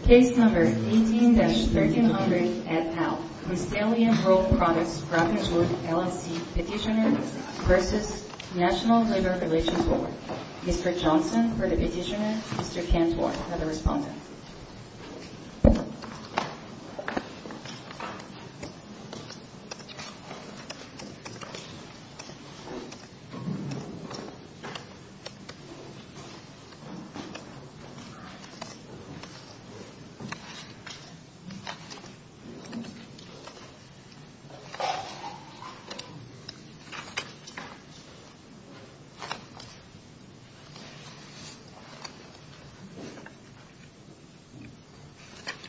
Petitioner v. National Labor Relations Board Mr. Johnson for the petitioner, Mr. Cantworth for the respondent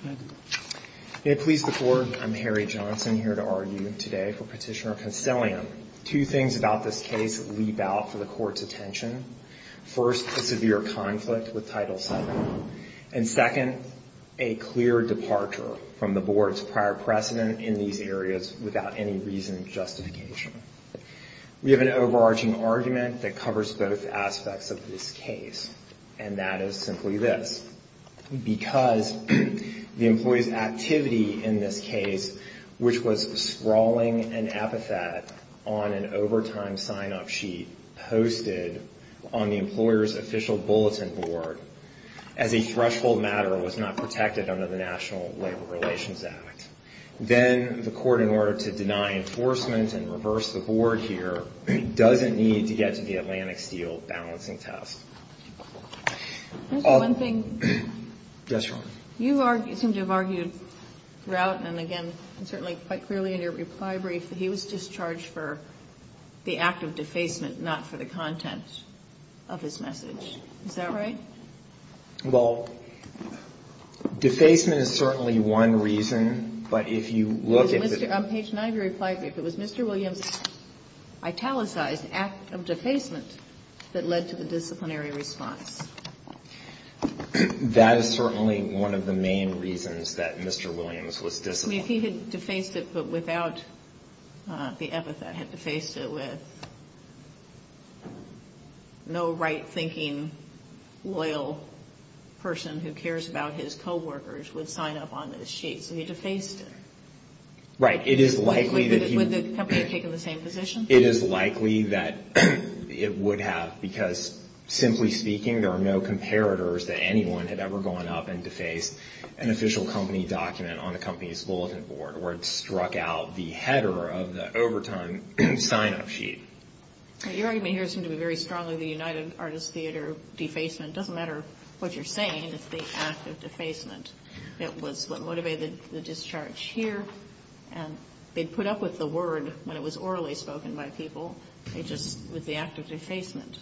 Please do. Please the court I'm Harry Johnson here to argue today for partitioner Concilium two things about this case leap out from the court detention First a severe conflict with title seven and second a Clear departure from the board's prior precedent in these areas without any reason of justification We have an overarching argument that covers both aspects of this case and that is simply this because The employees activity in this case, which was sprawling an epithet on an overtime sign-up sheet Posted on the employers official bulletin board as a threshold matter was not protected under the National Labor Relations Act Then the court in order to deny enforcement and reverse the board here doesn't need to get to the Atlantic steel balancing test Yes, you are you seem to have argued Throughout and again and certainly quite clearly in your reply brief that he was discharged for The act of defacement not for the content of his message. Is that right? well Defacement is certainly one reason but if you look at mr. Page and I've replied me if it was mr. Williams Italicized act of defacement that led to the disciplinary response That is certainly one of the main reasons that mr. Williams was discipline if he had defaced it but without The epithet had defaced it with No, right-thinking loyal Person who cares about his co-workers would sign up on those sheets and he defaced it Right. It is likely that It is likely that It would have because Simply speaking There are no comparators that anyone had ever gone up and defaced an official company document on the company's bulletin board where it struck out The header of the overtime and sign-up sheet You're even here seem to be very strongly the United Artists Theater Defacement doesn't matter what you're saying. It's the act of defacement It was what motivated the discharge here and they'd put up with the word when it was orally spoken by people They just with the act of defacement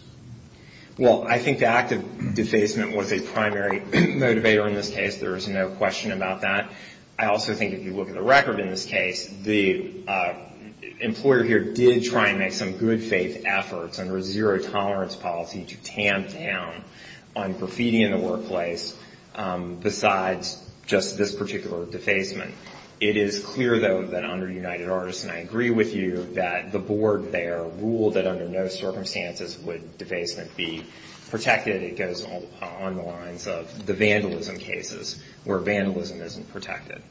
Well, I think the act of defacement was a primary motivator in this case. There is no question about that I also think if you look at the record in this case the Employer here did try and make some good-faith efforts under a zero-tolerance policy to tamp down on graffiti in the workplace Besides just this particular defacement It is clear though that under United Artists and I agree with you that the board there ruled that under no circumstances Would defacement be protected it goes on the lines of the vandalism cases where vandalism isn't protected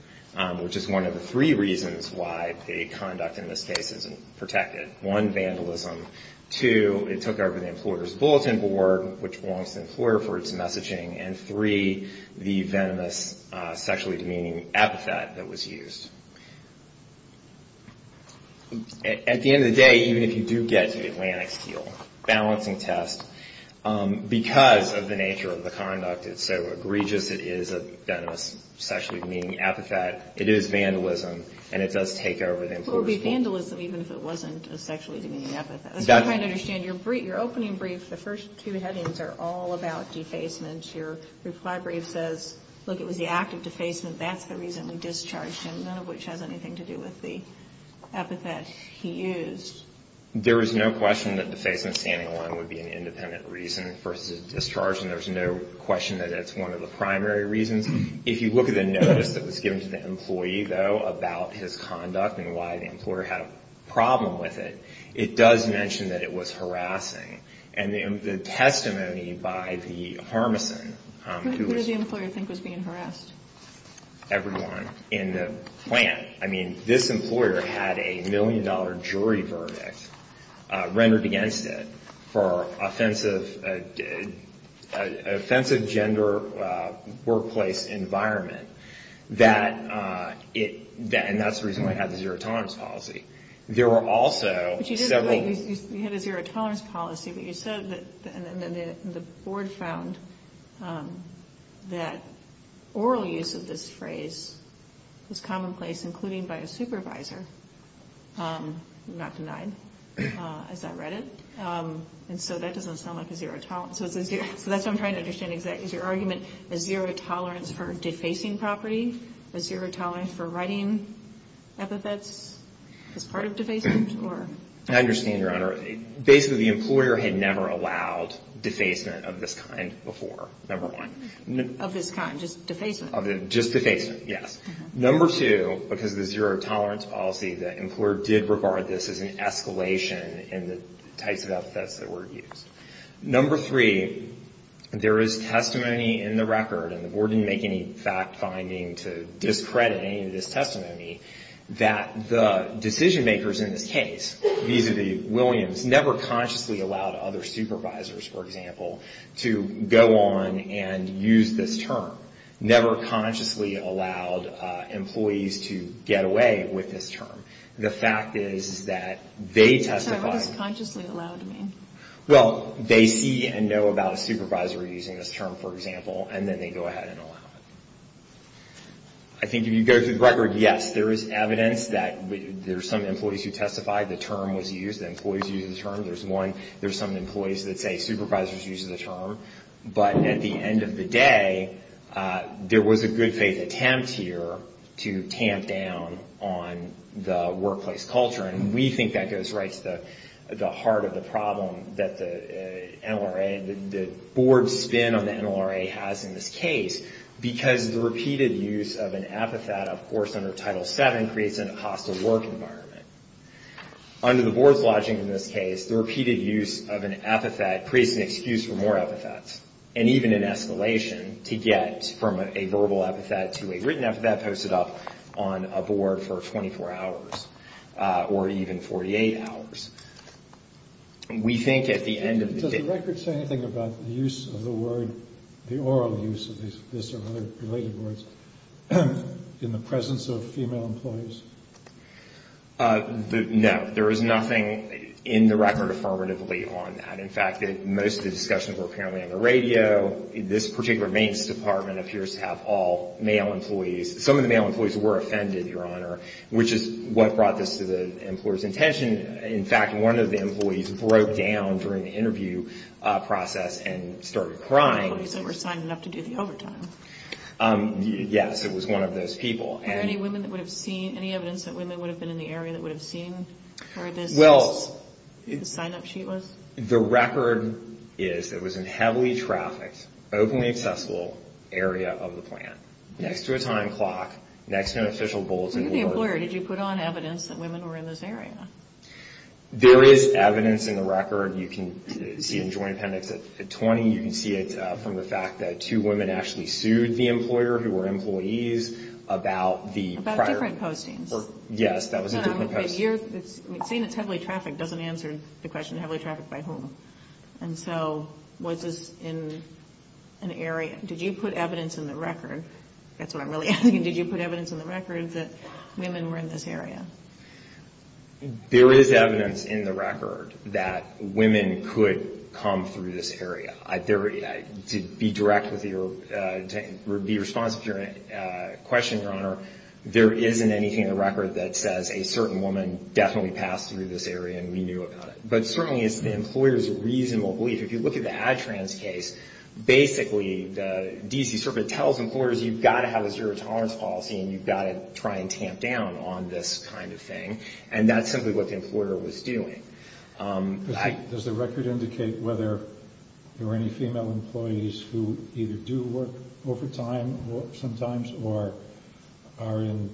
Which is one of the three reasons why the conduct in this case isn't protected. One, vandalism Two, it took over the employer's bulletin board which belongs to the employer for its messaging and three, the venomous sexually demeaning epithet that was used At the end of the day even if you do get to the Atlantic steel balancing test Because of the nature of the conduct it's so egregious it is a venomous sexually demeaning epithet It is vandalism and it does take over the employer's bulletin board It would be vandalism even if it wasn't a sexually demeaning epithet As far as I understand your opening brief the first two headings are all about defacement Your reply brief says look it was the act of defacement That's the reason we discharged him none of which has anything to do with the epithet he used There is no question that defacement standing alone would be an independent reason versus a discharge And there's no question that it's one of the primary reasons if you look at the notice that was given to the employee though About his conduct and why the employer had a problem with it It does mention that it was harassing and the testimony by the Harmeson Everyone in the plant I mean this employer had a million-dollar jury verdict rendered against it for offensive Offensive gender workplace environment that It then that's the reason why I had the zero tolerance policy. There were also The board found That oral use of this phrase Was commonplace including by a supervisor Not denied As I read it And so that doesn't sound like a zero talent So that's what I'm trying to understand exactly is your argument a zero tolerance for defacing property a zero tolerance for writing epithets It's part of defacement or I understand your honor basically the employer had never allowed Defacement of this kind before number one of this kind just defacing of it just the face Yes Number two because the zero tolerance policy the employer did regard this as an escalation in the types of outfits that were used number three There is testimony in the record and the board didn't make any fact-finding to discredit any of this testimony That the decision-makers in this case These are the Williams never consciously allowed other supervisors for example to go on and use this term never consciously allowed Employees to get away with this term. The fact is that they testified Well, they see and know about a supervisor using this term for example, and then they go ahead and allow it I Evidence that there's some employees who testified the term was used employees use the term There's one there's some employees that say supervisors use the term but at the end of the day There was a good-faith attempt here to tamp down on the workplace culture and we think that goes right to the heart of the problem that the NLRA the board spin on the NLRA has in this case Because the repeated use of an epithet, of course under title 7 creates in a hostile work environment under the boards lodging in this case the repeated use of an epithet creates an excuse for more epithets and even in Escalation to get from a verbal epithet to a written epithet posted up on a board for 24 hours or even 48 hours And we think at the end of the record say anything about the use of the word the oral use of these In the presence of female employees No, there is nothing in the record affirmatively on that In fact that most of the discussions were apparently on the radio This particular maintenance department appears to have all male employees Some of the male employees were offended your honor, which is what brought this to the employers intention In fact, one of the employees broke down during the interview process and started crying Yes, it was one of those people The record is it was in heavily trafficked openly accessible Area of the plant next to a time clock next to an official bulletin Did you put on evidence that women were in this area There is evidence in the record. You can see in joint appendix at 20 You can see it from the fact that two women actually sued the employer who were employees about the different postings Yes, that was a year. It's seen. It's heavily trafficked doesn't answer the question heavily trafficked by home. And so was this in An area did you put evidence in the record? That's what I'm really asking Did you put evidence in the records that women were in this area? There is evidence in the record that women could come through this area. I dare you to be direct with your be responsive to Question your honor. There isn't anything in the record that says a certain woman definitely passed through this area and we knew about it But certainly it's the employers reasonable belief if you look at the ad trans case Basically the DC circuit tells employers you've got to have a zero tolerance policy and you've got to try and tamp down on this Kind of thing and that's simply what the employer was doing Does the record indicate whether there were any female employees who either do work overtime? sometimes or are in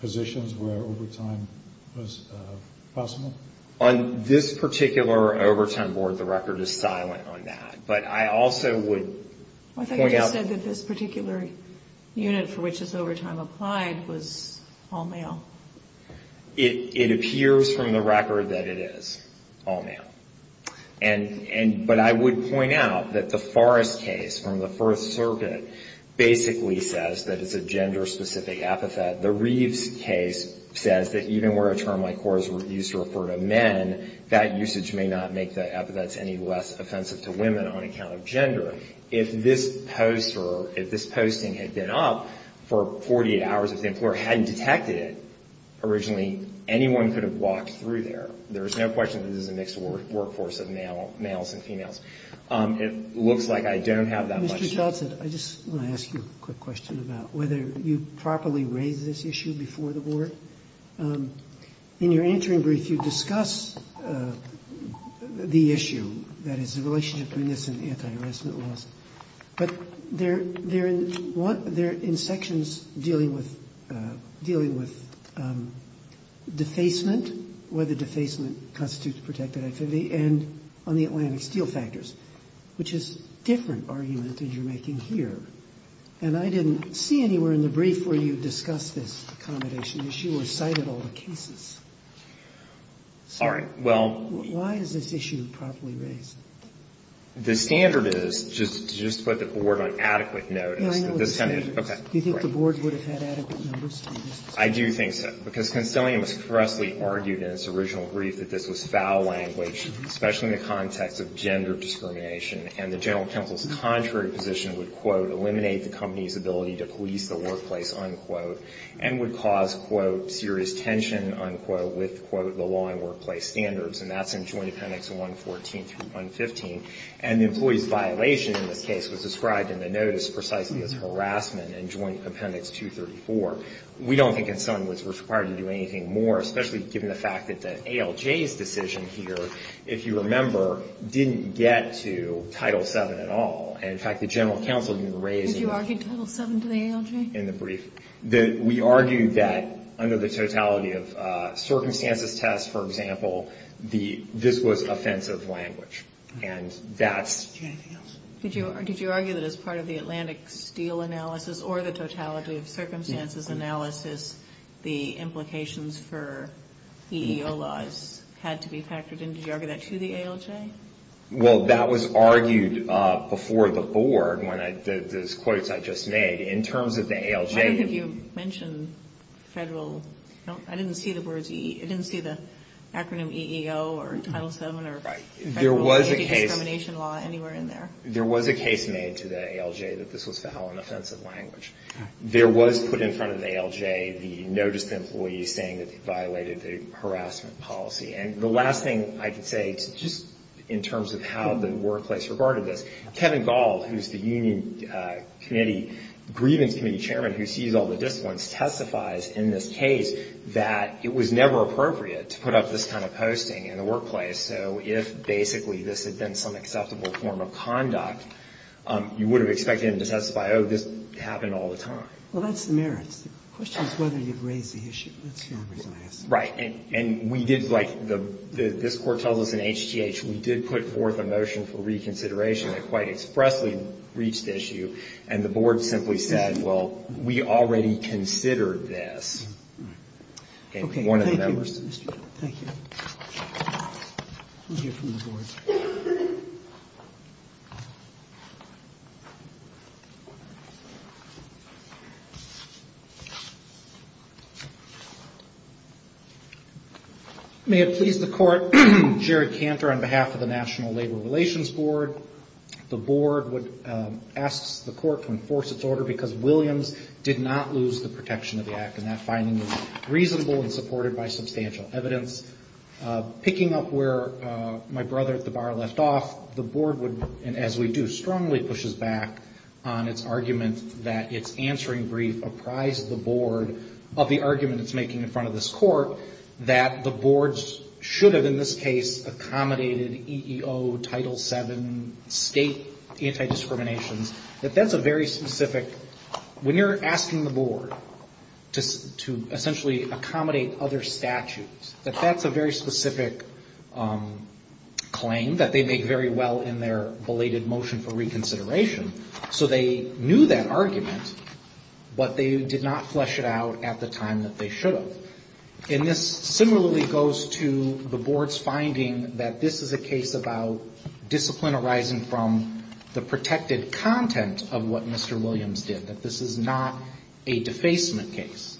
positions where overtime was Possible on this particular overtime board. The record is silent on that, but I also would Think I said that this particular Unit for which is overtime applied was all male it it appears from the record that it is all male and And but I would point out that the forest case from the First Circuit Basically says that it's a gender-specific epithet the Reeves case Says that even where a term like whores were used to refer to men That usage may not make the epithets any less offensive to women on account of gender if this Poster if this posting had been up for 48 hours if the employer hadn't detected it Originally anyone could have walked through there. There's no question. This is a mixed work workforce of male males and females It looks like I don't have that much Whether you properly raise this issue before the board In your entering brief you discuss The issue that is the relationship between this and the anti-harassment laws But they're they're in what they're in sections dealing with dealing with Defacement whether defacement constitutes protected activity and on the Atlantic steel factors Which is different argument that you're making here And I didn't see anywhere in the brief where you discuss this accommodation issue or cited all the cases Sorry, well, why is this issue properly raised? The standard is just to just put the board on adequate. Notice that this time. Okay, you think the board would have had Expressly argued in its original brief that this was foul language Especially the context of gender discrimination and the general counsel's contrary position would quote eliminate the company's ability to police the workplace Unquote and would cause quote serious tension unquote with quote the law in workplace standards and that's in joint appendix 114 through 115 and the employees violation in this case was described in the notice precisely as harassment and joint appendix 234 we don't think it's something that's required to do anything more Especially given the fact that the ALJ's decision here if you remember didn't get to Title 7 at all And in fact the general counsel didn't raise you argued title 7 to the ALJ in the brief that we argued that under the totality of Circumstances tests, for example, the this was offensive language and that's Did you or did you argue that as part of the Atlantic steel analysis or the totality of circumstances analysis the implications for EEO laws had to be factored in did you argue that to the ALJ? Well that was argued before the board when I did those quotes. I just made in terms of the ALJ Have you mentioned? Federal I didn't see the words II didn't see the acronym EEO or title 7 or right? There was a case There was a case made to the ALJ that this was foul and offensive language There was put in front of the ALJ the notice to employees saying that they violated the harassment policy And the last thing I could say just in terms of how the workplace regarded this Kevin Gaul, who's the Union? Committee grievance committee chairman who sees all the disciplines testifies in this case that it was never appropriate To put up this kind of posting in the workplace. So if basically this had been some acceptable form of conduct You would have expected him to testify. Oh this happened all the time. Well, that's the merits Right and and we did like the this court tells us in HGH We did put forth a motion for reconsideration that quite expressly reached issue and the board simply said well We already considered this Okay May it please the court Jared Cantor on behalf of the National Labor Relations Board the board would The court to enforce its order because Williams did not lose the protection of the act and that finding was reasonable and supported by substantial evidence Picking up where my brother at the bar left off the board would and as we do strongly pushes back on its argument That it's answering brief apprised the board of the argument It's making in front of this court that the boards should have in this case accommodated EEO title 7 state Anti-discriminations that that's a very specific When you're asking the board Just to essentially accommodate other statutes that that's a very specific Claim that they make very well in their belated motion for reconsideration. So they knew that argument But they did not flesh it out at the time that they should have In this similarly goes to the board's finding that this is a case about Discipline arising from the protected content of what? Mr. Williams did that this is not a defacement case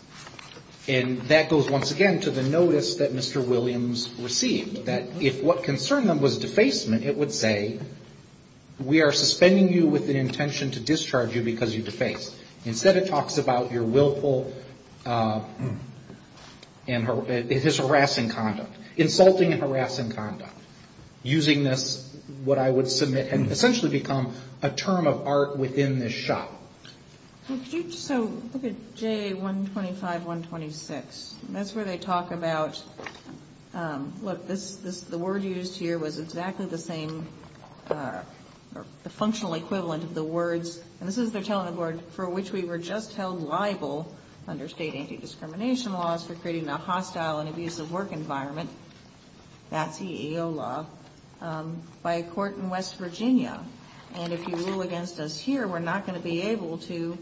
And that goes once again to the notice that mr. Williams received that if what concerned them was defacement, it would say We are suspending you with the intention to discharge you because you defaced instead. It talks about your willful And her it is harassing conduct insulting and harassing conduct Using this what I would submit and essentially become a term of art within this shop So look at J 125 126. That's where they talk about What this is the word used here was exactly the same The functional equivalent of the words and this is they're telling the board for which we were just held liable Under state anti-discrimination laws for creating a hostile and abusive work environment That CEO law By a court in West Virginia, and if you rule against us here, we're not going to be able to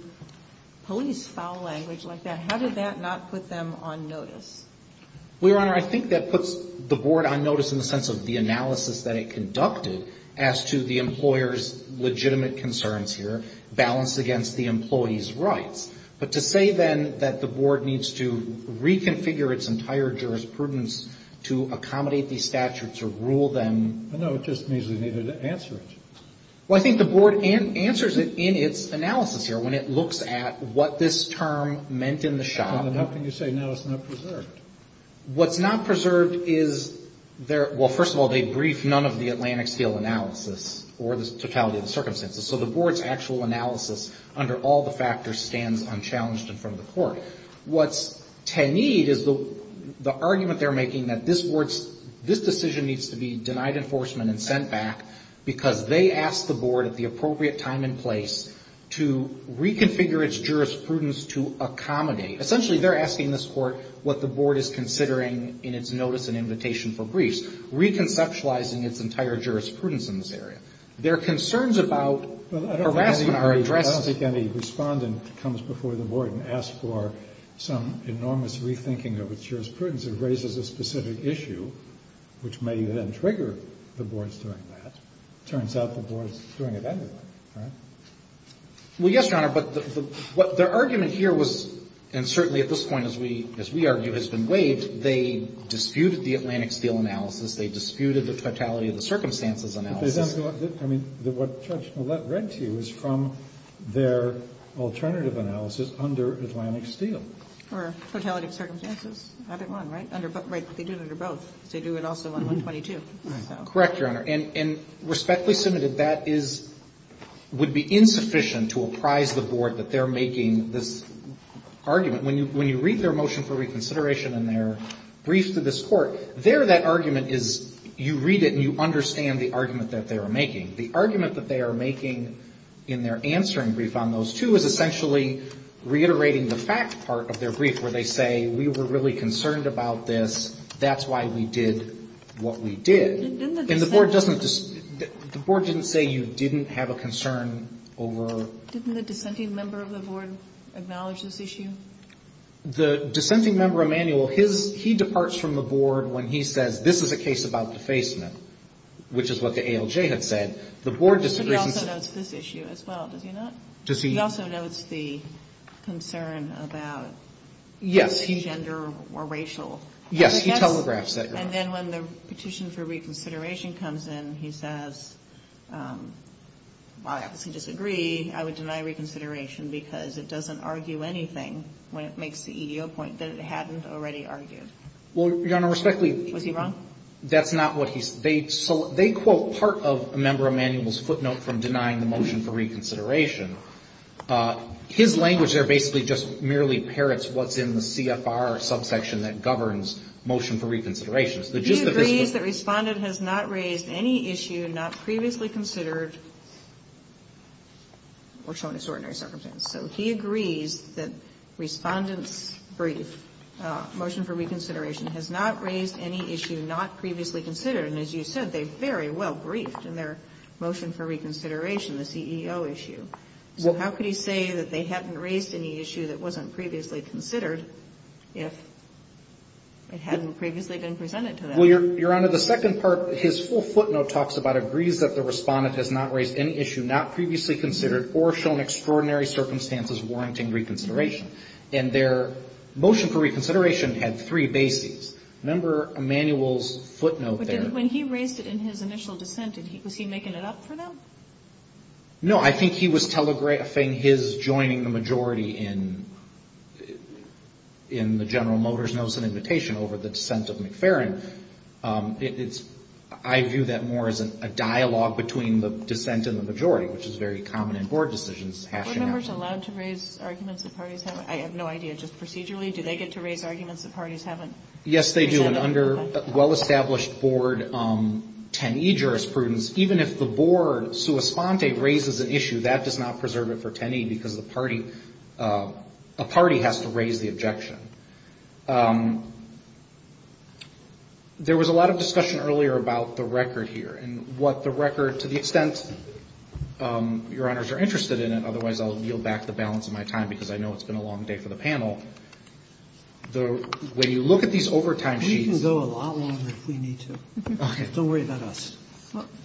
Police foul language like that. How did that not put them on notice? We were honor I think that puts the board on notice in the sense of the analysis that it conducted as to the employers legitimate concerns here balance against the employees rights, but to say then that the board needs to Accommodate these statutes or rule them Well, I think the board and answers it in its analysis here when it looks at what this term meant in the shop What's not preserved is There well, first of all, they brief none of the Atlantic Steel analysis or the totality of the circumstances So the board's actual analysis under all the factors stands unchallenged in front of the court What's ten need is the The argument they're making that this words this decision needs to be denied enforcement and sent back because they asked the board at the appropriate time in place to reconfigure its jurisprudence to Accommodate essentially they're asking this court what the board is considering in its notice and invitation for briefs Reconceptualizing its entire jurisprudence in this area. There are concerns about Our address to any respondent comes before the board and asked for some enormous Rethinking of its jurisprudence it raises a specific issue Which may then trigger the boards doing that turns out the board's doing it anyway Well, yes, your honor But what their argument here was and certainly at this point as we as we argue has been waived They disputed the Atlantic Steel analysis. They disputed the totality of the circumstances analysis I mean what judge read to you is from their Alternative analysis under Atlantic Steel or totality of circumstances I think one right under but right they do it under both. They do it also on 122 correct your honor and respectfully submitted that is Would be insufficient to apprise the board that they're making this Argument when you when you read their motion for reconsideration and their brief to this court there Argument is you read it and you understand the argument that they are making the argument that they are making In their answering brief on those two is essentially Reiterating the fact part of their brief where they say we were really concerned about this. That's why we did what we did And the board doesn't just the board didn't say you didn't have a concern over The dissenting member of the board acknowledged this issue The dissenting member Emanuel his he departs from the board when he says this is a case about defacement Which is what the ALJ had said the board disagrees Does he also knows the concern about Yes, he gender or racial. Yes. He telegraphs that and then when the petition for reconsideration comes in he says I obviously disagree I would deny reconsideration because it doesn't argue anything when it makes the EDO point that it hadn't already argued Well, your honor respectfully was he wrong? That's not what he's they so they quote part of a member of manuals footnote from denying the motion for reconsideration His language they're basically just merely parrots. What's in the CFR subsection that governs motion for reconsideration That respondent has not raised any issue not previously considered We're showing extraordinary circumstance so he agrees that respondents brief Motion for reconsideration has not raised any issue not previously considered and as you said, they very well briefed in their motion for reconsideration The CEO issue. Well, how could he say that they hadn't raised any issue that wasn't previously considered if It hadn't previously been presented to them Well, you're under the second part his full footnote talks about agrees that the respondent has not raised any issue not previously considered or shown extraordinary circumstances warranting reconsideration and their motion for reconsideration had three bases number Manuals footnote when he raised it in his initial dissent. Did he was he making it up for them? No, I think he was telegraphing his joining the majority in In the General Motors notice an invitation over the dissent of McFerrin It's I view that more as a dialogue between the dissent and the majority which is very common in board decisions I have no idea just procedurally. Do they get to raise arguments that parties haven't? Yes, they do and under well-established board 10e jurisprudence, even if the board Suas Ponte raises an issue that does not preserve it for 10e because the party A party has to raise the objection There was a lot of discussion earlier about the record here and what the record to the extent Your honors are interested in it Otherwise, I'll yield back the balance of my time because I know it's been a long day for the panel Though when you look at these overtime, she can go a lot longer if we need to Don't worry about us.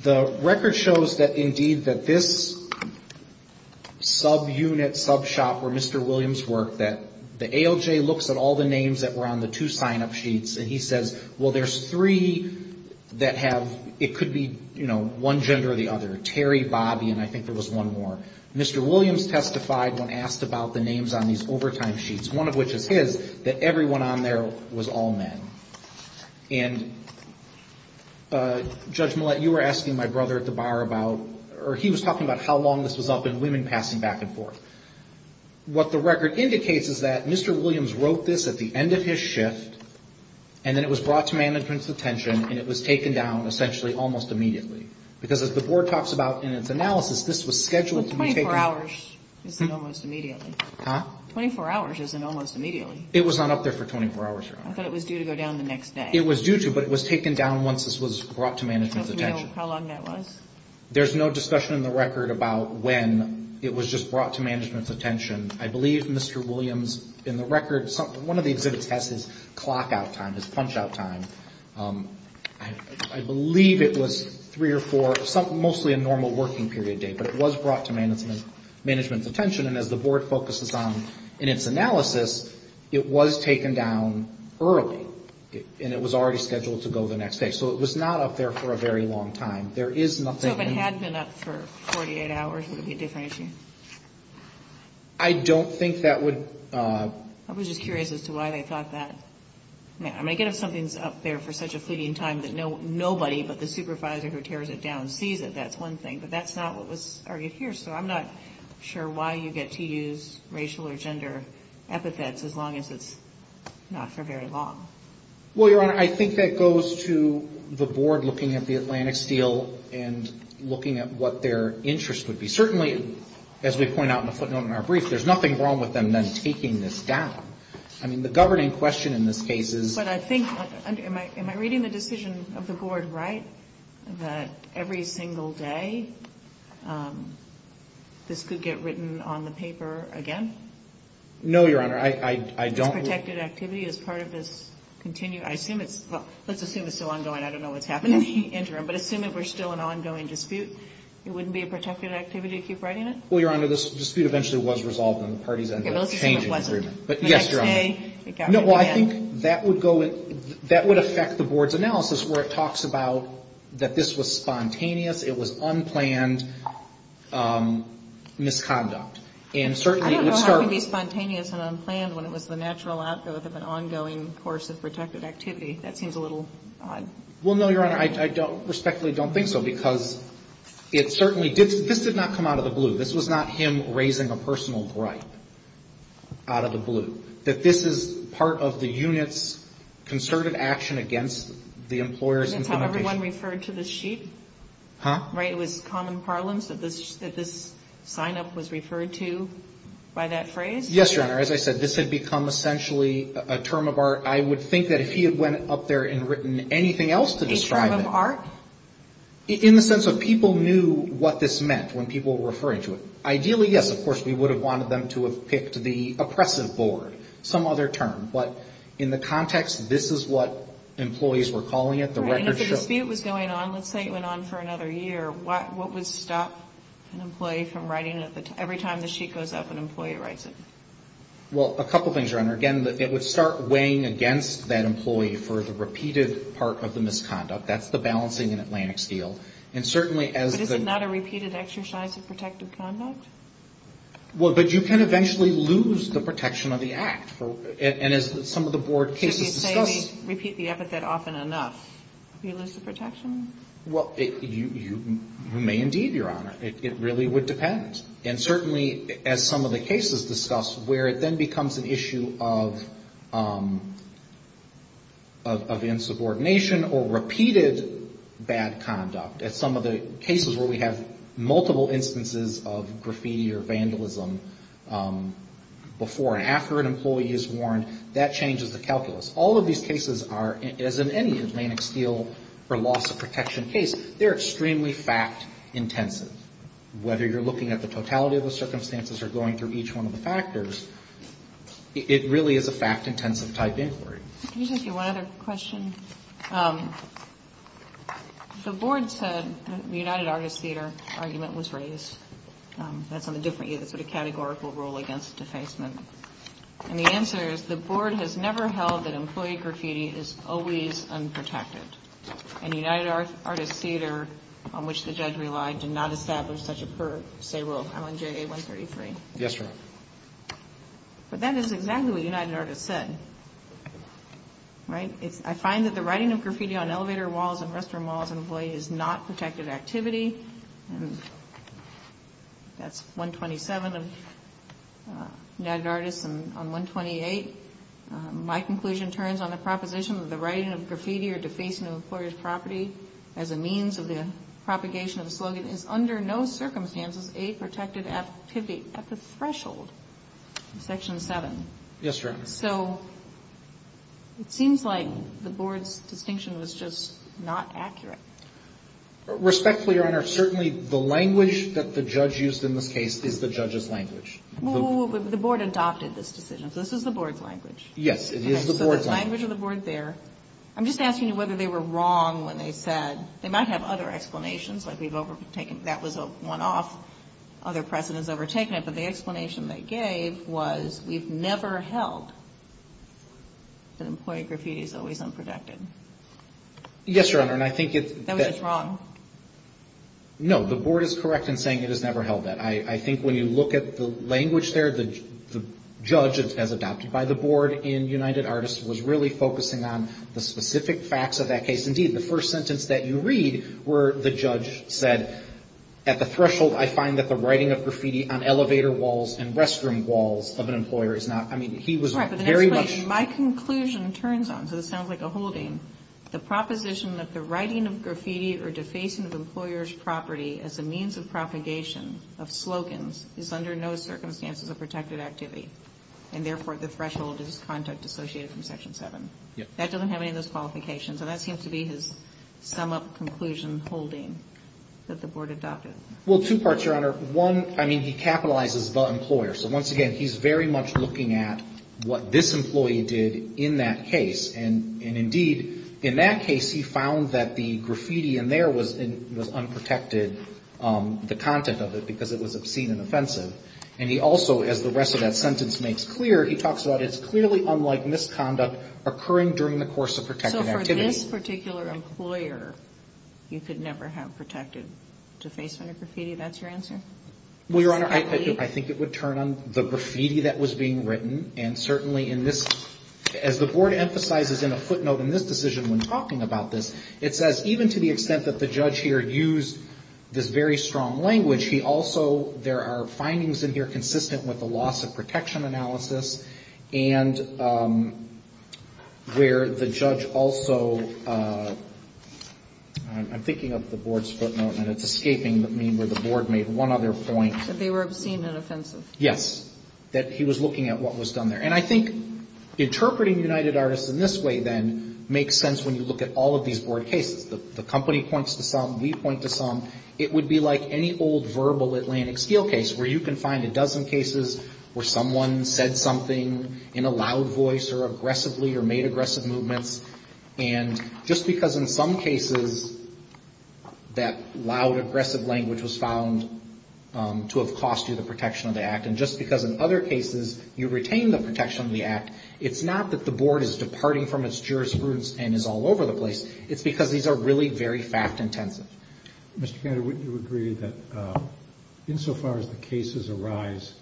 The record shows that indeed that this Subunit sub shop where mr Williams worked that the ALJ looks at all the names that were on the two sign-up sheets and he says well, there's three That have it could be you know, one gender or the other Terry Bobby and I think there was one more Mr. Williams testified when asked about the names on these overtime sheets One of which is his that everyone on there was all men and Judge Millett you were asking my brother at the bar about or he was talking about how long this was up in women passing back and forth What the record indicates is that mr. Williams wrote this at the end of his shift and then it was brought to management's attention And it was taken down essentially almost immediately because as the board talks about in its analysis This was scheduled 24 hours 24 hours isn't almost immediately. It was not up there for 24 hours It was due to but it was taken down once this was brought to management's attention There's no discussion in the record about when it was just brought to management's attention. I believe mr Williams in the record something one of the exhibits has his clock out time his punch-out time. I Believe it was three or four something mostly a normal working period day But it was brought to management management's attention and as the board focuses on in its analysis It was taken down Early, and it was already scheduled to go the next day. So it was not up there for a very long time There is nothing 48 hours would be a different issue. I Don't think that would I was just curious as to why they thought that Yeah, I'm gonna get if something's up there for such a fleeting time that no nobody but the supervisor who tears it down sees it That's one thing but that's not what was argued here. So I'm not sure why you get to use racial or gender epithets as long as it's Not for very long well, your honor, I think that goes to the board looking at the Atlantic steel and Looking at what their interest would be certainly as we point out in the footnote in our brief There's nothing wrong with them then taking this down. I mean the governing question in this case is what I think Am I reading the decision of the board, right? that every single day This could get written on the paper again No, your honor. I don't Continue I assume it's let's assume it's still ongoing. I don't know what's happening interim But assume if we're still an ongoing dispute, it wouldn't be a protected activity to keep writing it Well, your honor this dispute eventually was resolved on the party's end But yes, you're on No, I think that would go in that would affect the board's analysis where it talks about that. This was spontaneous. It was unplanned Misconduct and certainly it would start be spontaneous and unplanned when it was the natural outgrowth of an ongoing course of protected activity That seems a little odd. Well, no, your honor. I don't respectfully don't think so because It certainly did this did not come out of the blue. This was not him raising a personal gripe Out of the blue that this is part of the unit's Concerted action against the employers. That's how everyone referred to the sheep Huh, right it was common parlance that this that this signup was referred to by that phrase Yes, your honor As I said this had become Essentially a term of art. I would think that if he had went up there and written anything else to describe of art In the sense of people knew what this meant when people were referring to it ideally Yes, of course We would have wanted them to have picked the oppressive board some other term but in the context This is what employees were calling it the record dispute was going on. Let's say it went on for another year What what would stop an employee from writing at the time every time the sheet goes up an employee writes it? Well a couple things are under again that it would start weighing against that employee for the repeated part of the misconduct That's the balancing in Atlantic steel and certainly as it is not a repeated exercise of protective conduct Well, but you can eventually lose the protection of the act for it and as some of the board cases Repeat the epithet often enough you lose the protection Well, you may indeed your honor it really would depend and certainly as some of the cases discussed where it then becomes an issue of Of insubordination or repeated bad conduct at some of the cases where we have multiple instances of graffiti or vandalism Before and after an employee is warned that changes the calculus all of these cases are as in any Atlantic steel For loss of protection case, they're extremely fact-intensive Whether you're looking at the totality of the circumstances are going through each one of the factors It really is a fact-intensive type inquiry The board said the United Artists Theatre argument was raised That's on a different you that's what a categorical rule against defacement And the answer is the board has never held that employee graffiti is always unprotected And United Artists Theatre on which the judge relied did not establish such a per se rule. I'm on JA 133. Yes, sir But that is exactly what United Artists said Right, it's I find that the writing of graffiti on elevator walls and restroom walls and avoid is not protected activity And That's 127 of United Artists and on 128 my conclusion turns on the proposition of the writing of graffiti or defacing of employers property as a means of the Propagation of the slogan is under no circumstances a protected activity at the threshold section 7 yes, sir, so It seems like the board's distinction was just not accurate Respectfully your honor certainly the language that the judge used in this case is the judge's language The board adopted this decision. So this is the board's language. Yes, it is the board language of the board there I'm just asking you whether they were wrong when they said they might have other explanations like we've overtaken that was a one-off Other precedents overtaken it but the explanation they gave was we've never held That employee graffiti is always unprotected Yes, your honor and I think it's wrong No, the board is correct in saying it has never held that I think when you look at the language there the Judge as adopted by the board in United Artists was really focusing on the specific facts of that case indeed The first sentence that you read were the judge said at the threshold I find that the writing of graffiti on elevator walls and restroom walls of an employer is not I mean My conclusion turns on so this sounds like a holding the proposition that the writing of graffiti or defacing of employers property as a means of propagation of Slogans is under no circumstances a protected activity and therefore the threshold is contact associated from section 7 Yeah, that doesn't have any of those qualifications and that seems to be his sum-up conclusion holding that the board adopted Well two parts your honor one. I mean he capitalizes the employer. So once again, he's very much looking at What this employee did in that case and and indeed in that case? He found that the graffiti and there was in was unprotected The content of it because it was obscene and offensive and he also as the rest of that sentence makes clear He talks about it's clearly unlike misconduct occurring during the course of her title for this particular employer You could never have protected to face when a graffiti. That's your answer Well, your honor I think it would turn on the graffiti that was being written and certainly in this As the board emphasizes in a footnote in this decision when talking about this It says even to the extent that the judge here used this very strong language he also there are findings in here consistent with the loss of protection analysis and Where the judge also I'm thinking of the board's footnote and it's escaping that mean where the board made one other point that they were obscene and offensive Yes that he was looking at what was done there and I think Interpreting United Artists in this way then makes sense when you look at all of these board cases The company points to some we point to some it would be like any old verbal Atlantic Steel case where you can find a dozen cases where someone said something in a loud voice or aggressively or made aggressive movements and Just because in some cases That loud aggressive language was found To have cost you the protection of the act and just because in other cases you retain the protection of the act It's not that the board is departing from its jurisprudence and is all over the place. It's because these are really very fact-intensive Mr. Kennedy, would you agree that? Insofar as the cases arise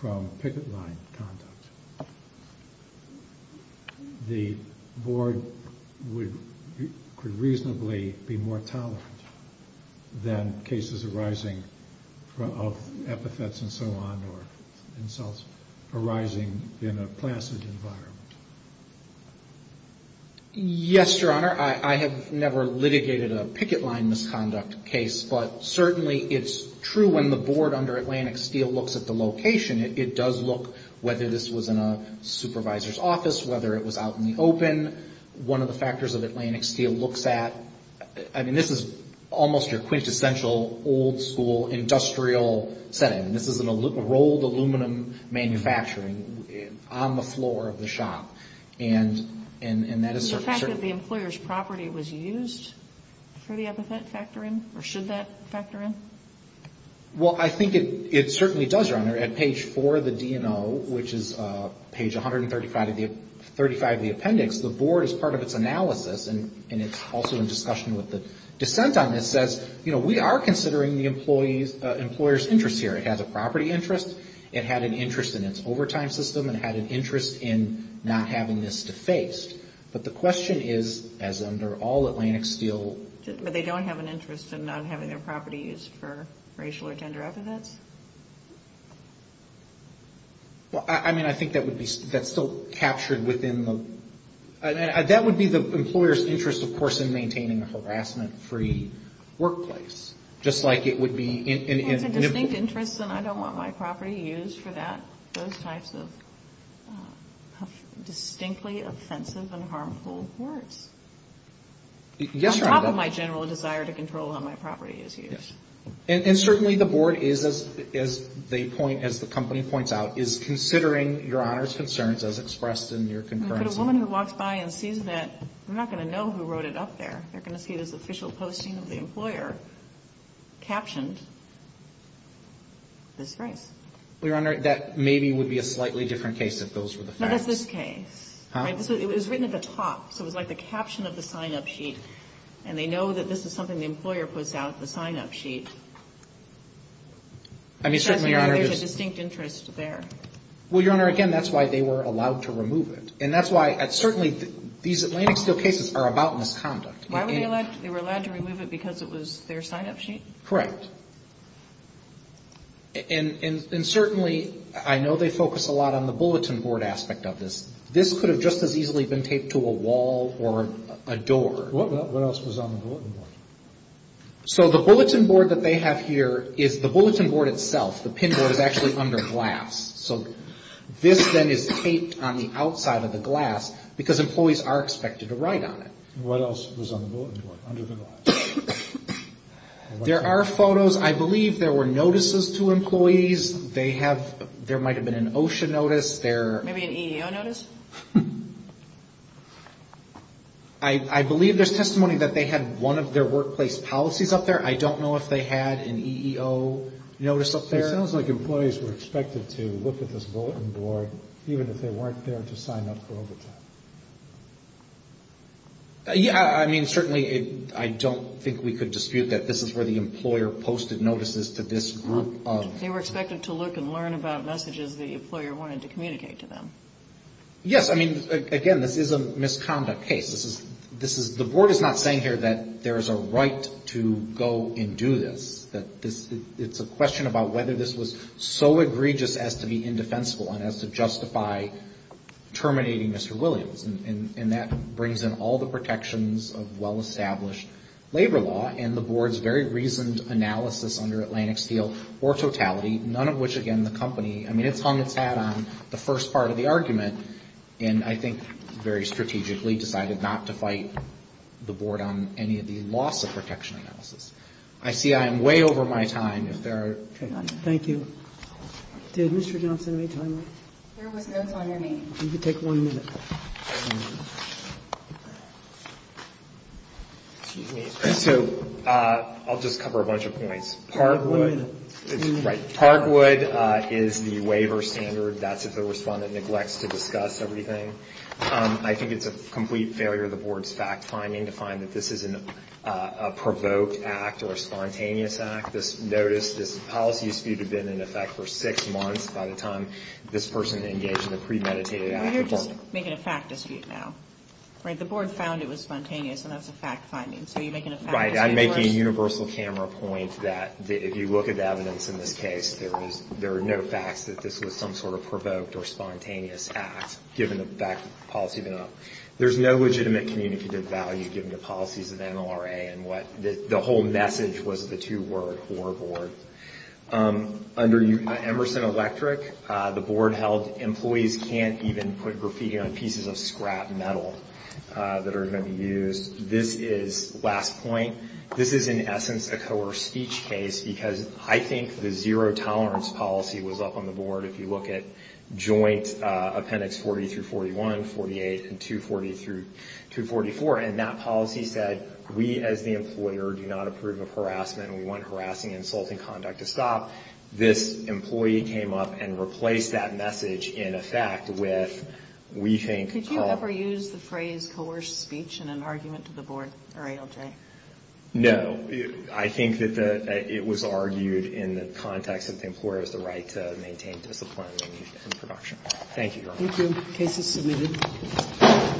from picket line The Board would Could reasonably be more tolerant than cases arising of epithets and so on or arising in a placid environment Yes, your honor I have never litigated a picket line misconduct case But certainly it's true when the board under Atlantic Steel looks at the location It does look whether this was in a supervisor's office whether it was out in the open One of the factors of Atlantic Steel looks at I mean, this is almost your quintessential old-school Industrial setting this is a little rolled aluminum manufacturing on the floor of the shop and and and that is the fact that the employers property was used For the epithet factor in or should that factor in? Well, I think it it certainly does your honor at page for the DNO which is page 135 of the 35 the appendix the board is part of its analysis and and it's also in discussion with the dissent on this says, you know We are considering the employees employers interest here. It has a property interest It had an interest in its overtime system and had an interest in not having this defaced But the question is as under all Atlantic Steel But they don't have an interest in not having their property used for racial or gender evidence Well, I mean I think that would be that's still captured within them That would be the employers interest of course in maintaining a harassment free Workplace just like it would be in a distinct interest and I don't want my property used for that those types of Distinctly offensive and harmful words Yes, your honor my general desire to control how my property is used and certainly the board is as they point as the company points out is considering your honors concerns as expressed in your concurrence a woman who walks by and sees that I'm not gonna know who wrote it up there. They're gonna see this official posting of the employer captioned This race we're under that maybe would be a slightly different case if those were the facts this case Was written at the top so it was like the caption of the sign-up sheet and they know that this is something the employer puts out the sign-up sheet I Mean certainly our distinct interest there. Well, your honor again That's why they were allowed to remove it and that's why it's certainly these Atlantic Steel cases are about misconduct Why would they like they were allowed to remove it because it was their sign-up sheet, correct? And Certainly, I know they focus a lot on the bulletin board aspect of this This could have just as easily been taped to a wall or a door So the bulletin board that they have here is the bulletin board itself the pin board is actually under glass So this then is taped on the outside of the glass because employees are expected to write on it What else There are photos I believe there were notices to employees they have there might have been an OSHA notice there I Believe there's testimony that they had one of their workplace policies up there. I don't know if they had an EEO Notice up there sounds like employees were expected to look at this bulletin board. Even if they weren't there to sign up for overtime Yeah Yeah, I mean certainly it I don't think we could dispute that this is where the employer posted notices to this group They were expected to look and learn about messages the employer wanted to communicate to them Yes, I mean again, this is a misconduct case This is this is the board is not saying here that there is a right to go and do this that this It's a question about whether this was so egregious as to be indefensible and as to justify Terminating. Mr. Williams and that brings in all the protections of well-established Labor law and the board's very reasoned analysis under Atlantic steel or totality none of which again the company I mean, it's hung its hat on the first part of the argument and I think very strategically decided not to fight The board on any of the loss of protection analysis. I see I am way over my time if there thank you Did mr. Johnson any time? You take one minute So I'll just cover a bunch of points Parkwood Right Parkwood is the waiver standard. That's if the respondent neglects to discuss everything I think it's a complete failure of the board's fact-finding to find that this is an provoked act or a spontaneous act this notice this policy dispute have been in effect for six months by the time This person engaged in a premeditated Make it a fact dispute now, right? The board found it was spontaneous and that's a fact-finding. So you're making a fight I'm making a universal camera point that if you look at the evidence in this case There is there are no facts that this was some sort of provoked or spontaneous act given the back policy They're not there's no legitimate Communicative value given the policies of NLRA and what the whole message was the two-word horror board Under you Emerson electric the board held employees can't even put graffiti on pieces of scrap metal That are going to be used. This is last point This is in essence a coerced speech case because I think the zero tolerance policy was up on the board if you look at joint appendix 40 through 41 48 and 240 through 244 and that policy said we as the employer do not approve of harassment We want harassing insulting conduct to stop this employee came up and replaced that message in effect with We think could you ever use the phrase coerced speech in an argument to the board or ALJ? No, I think that the it was argued in the context of the employer is the right to maintain discipline Thank you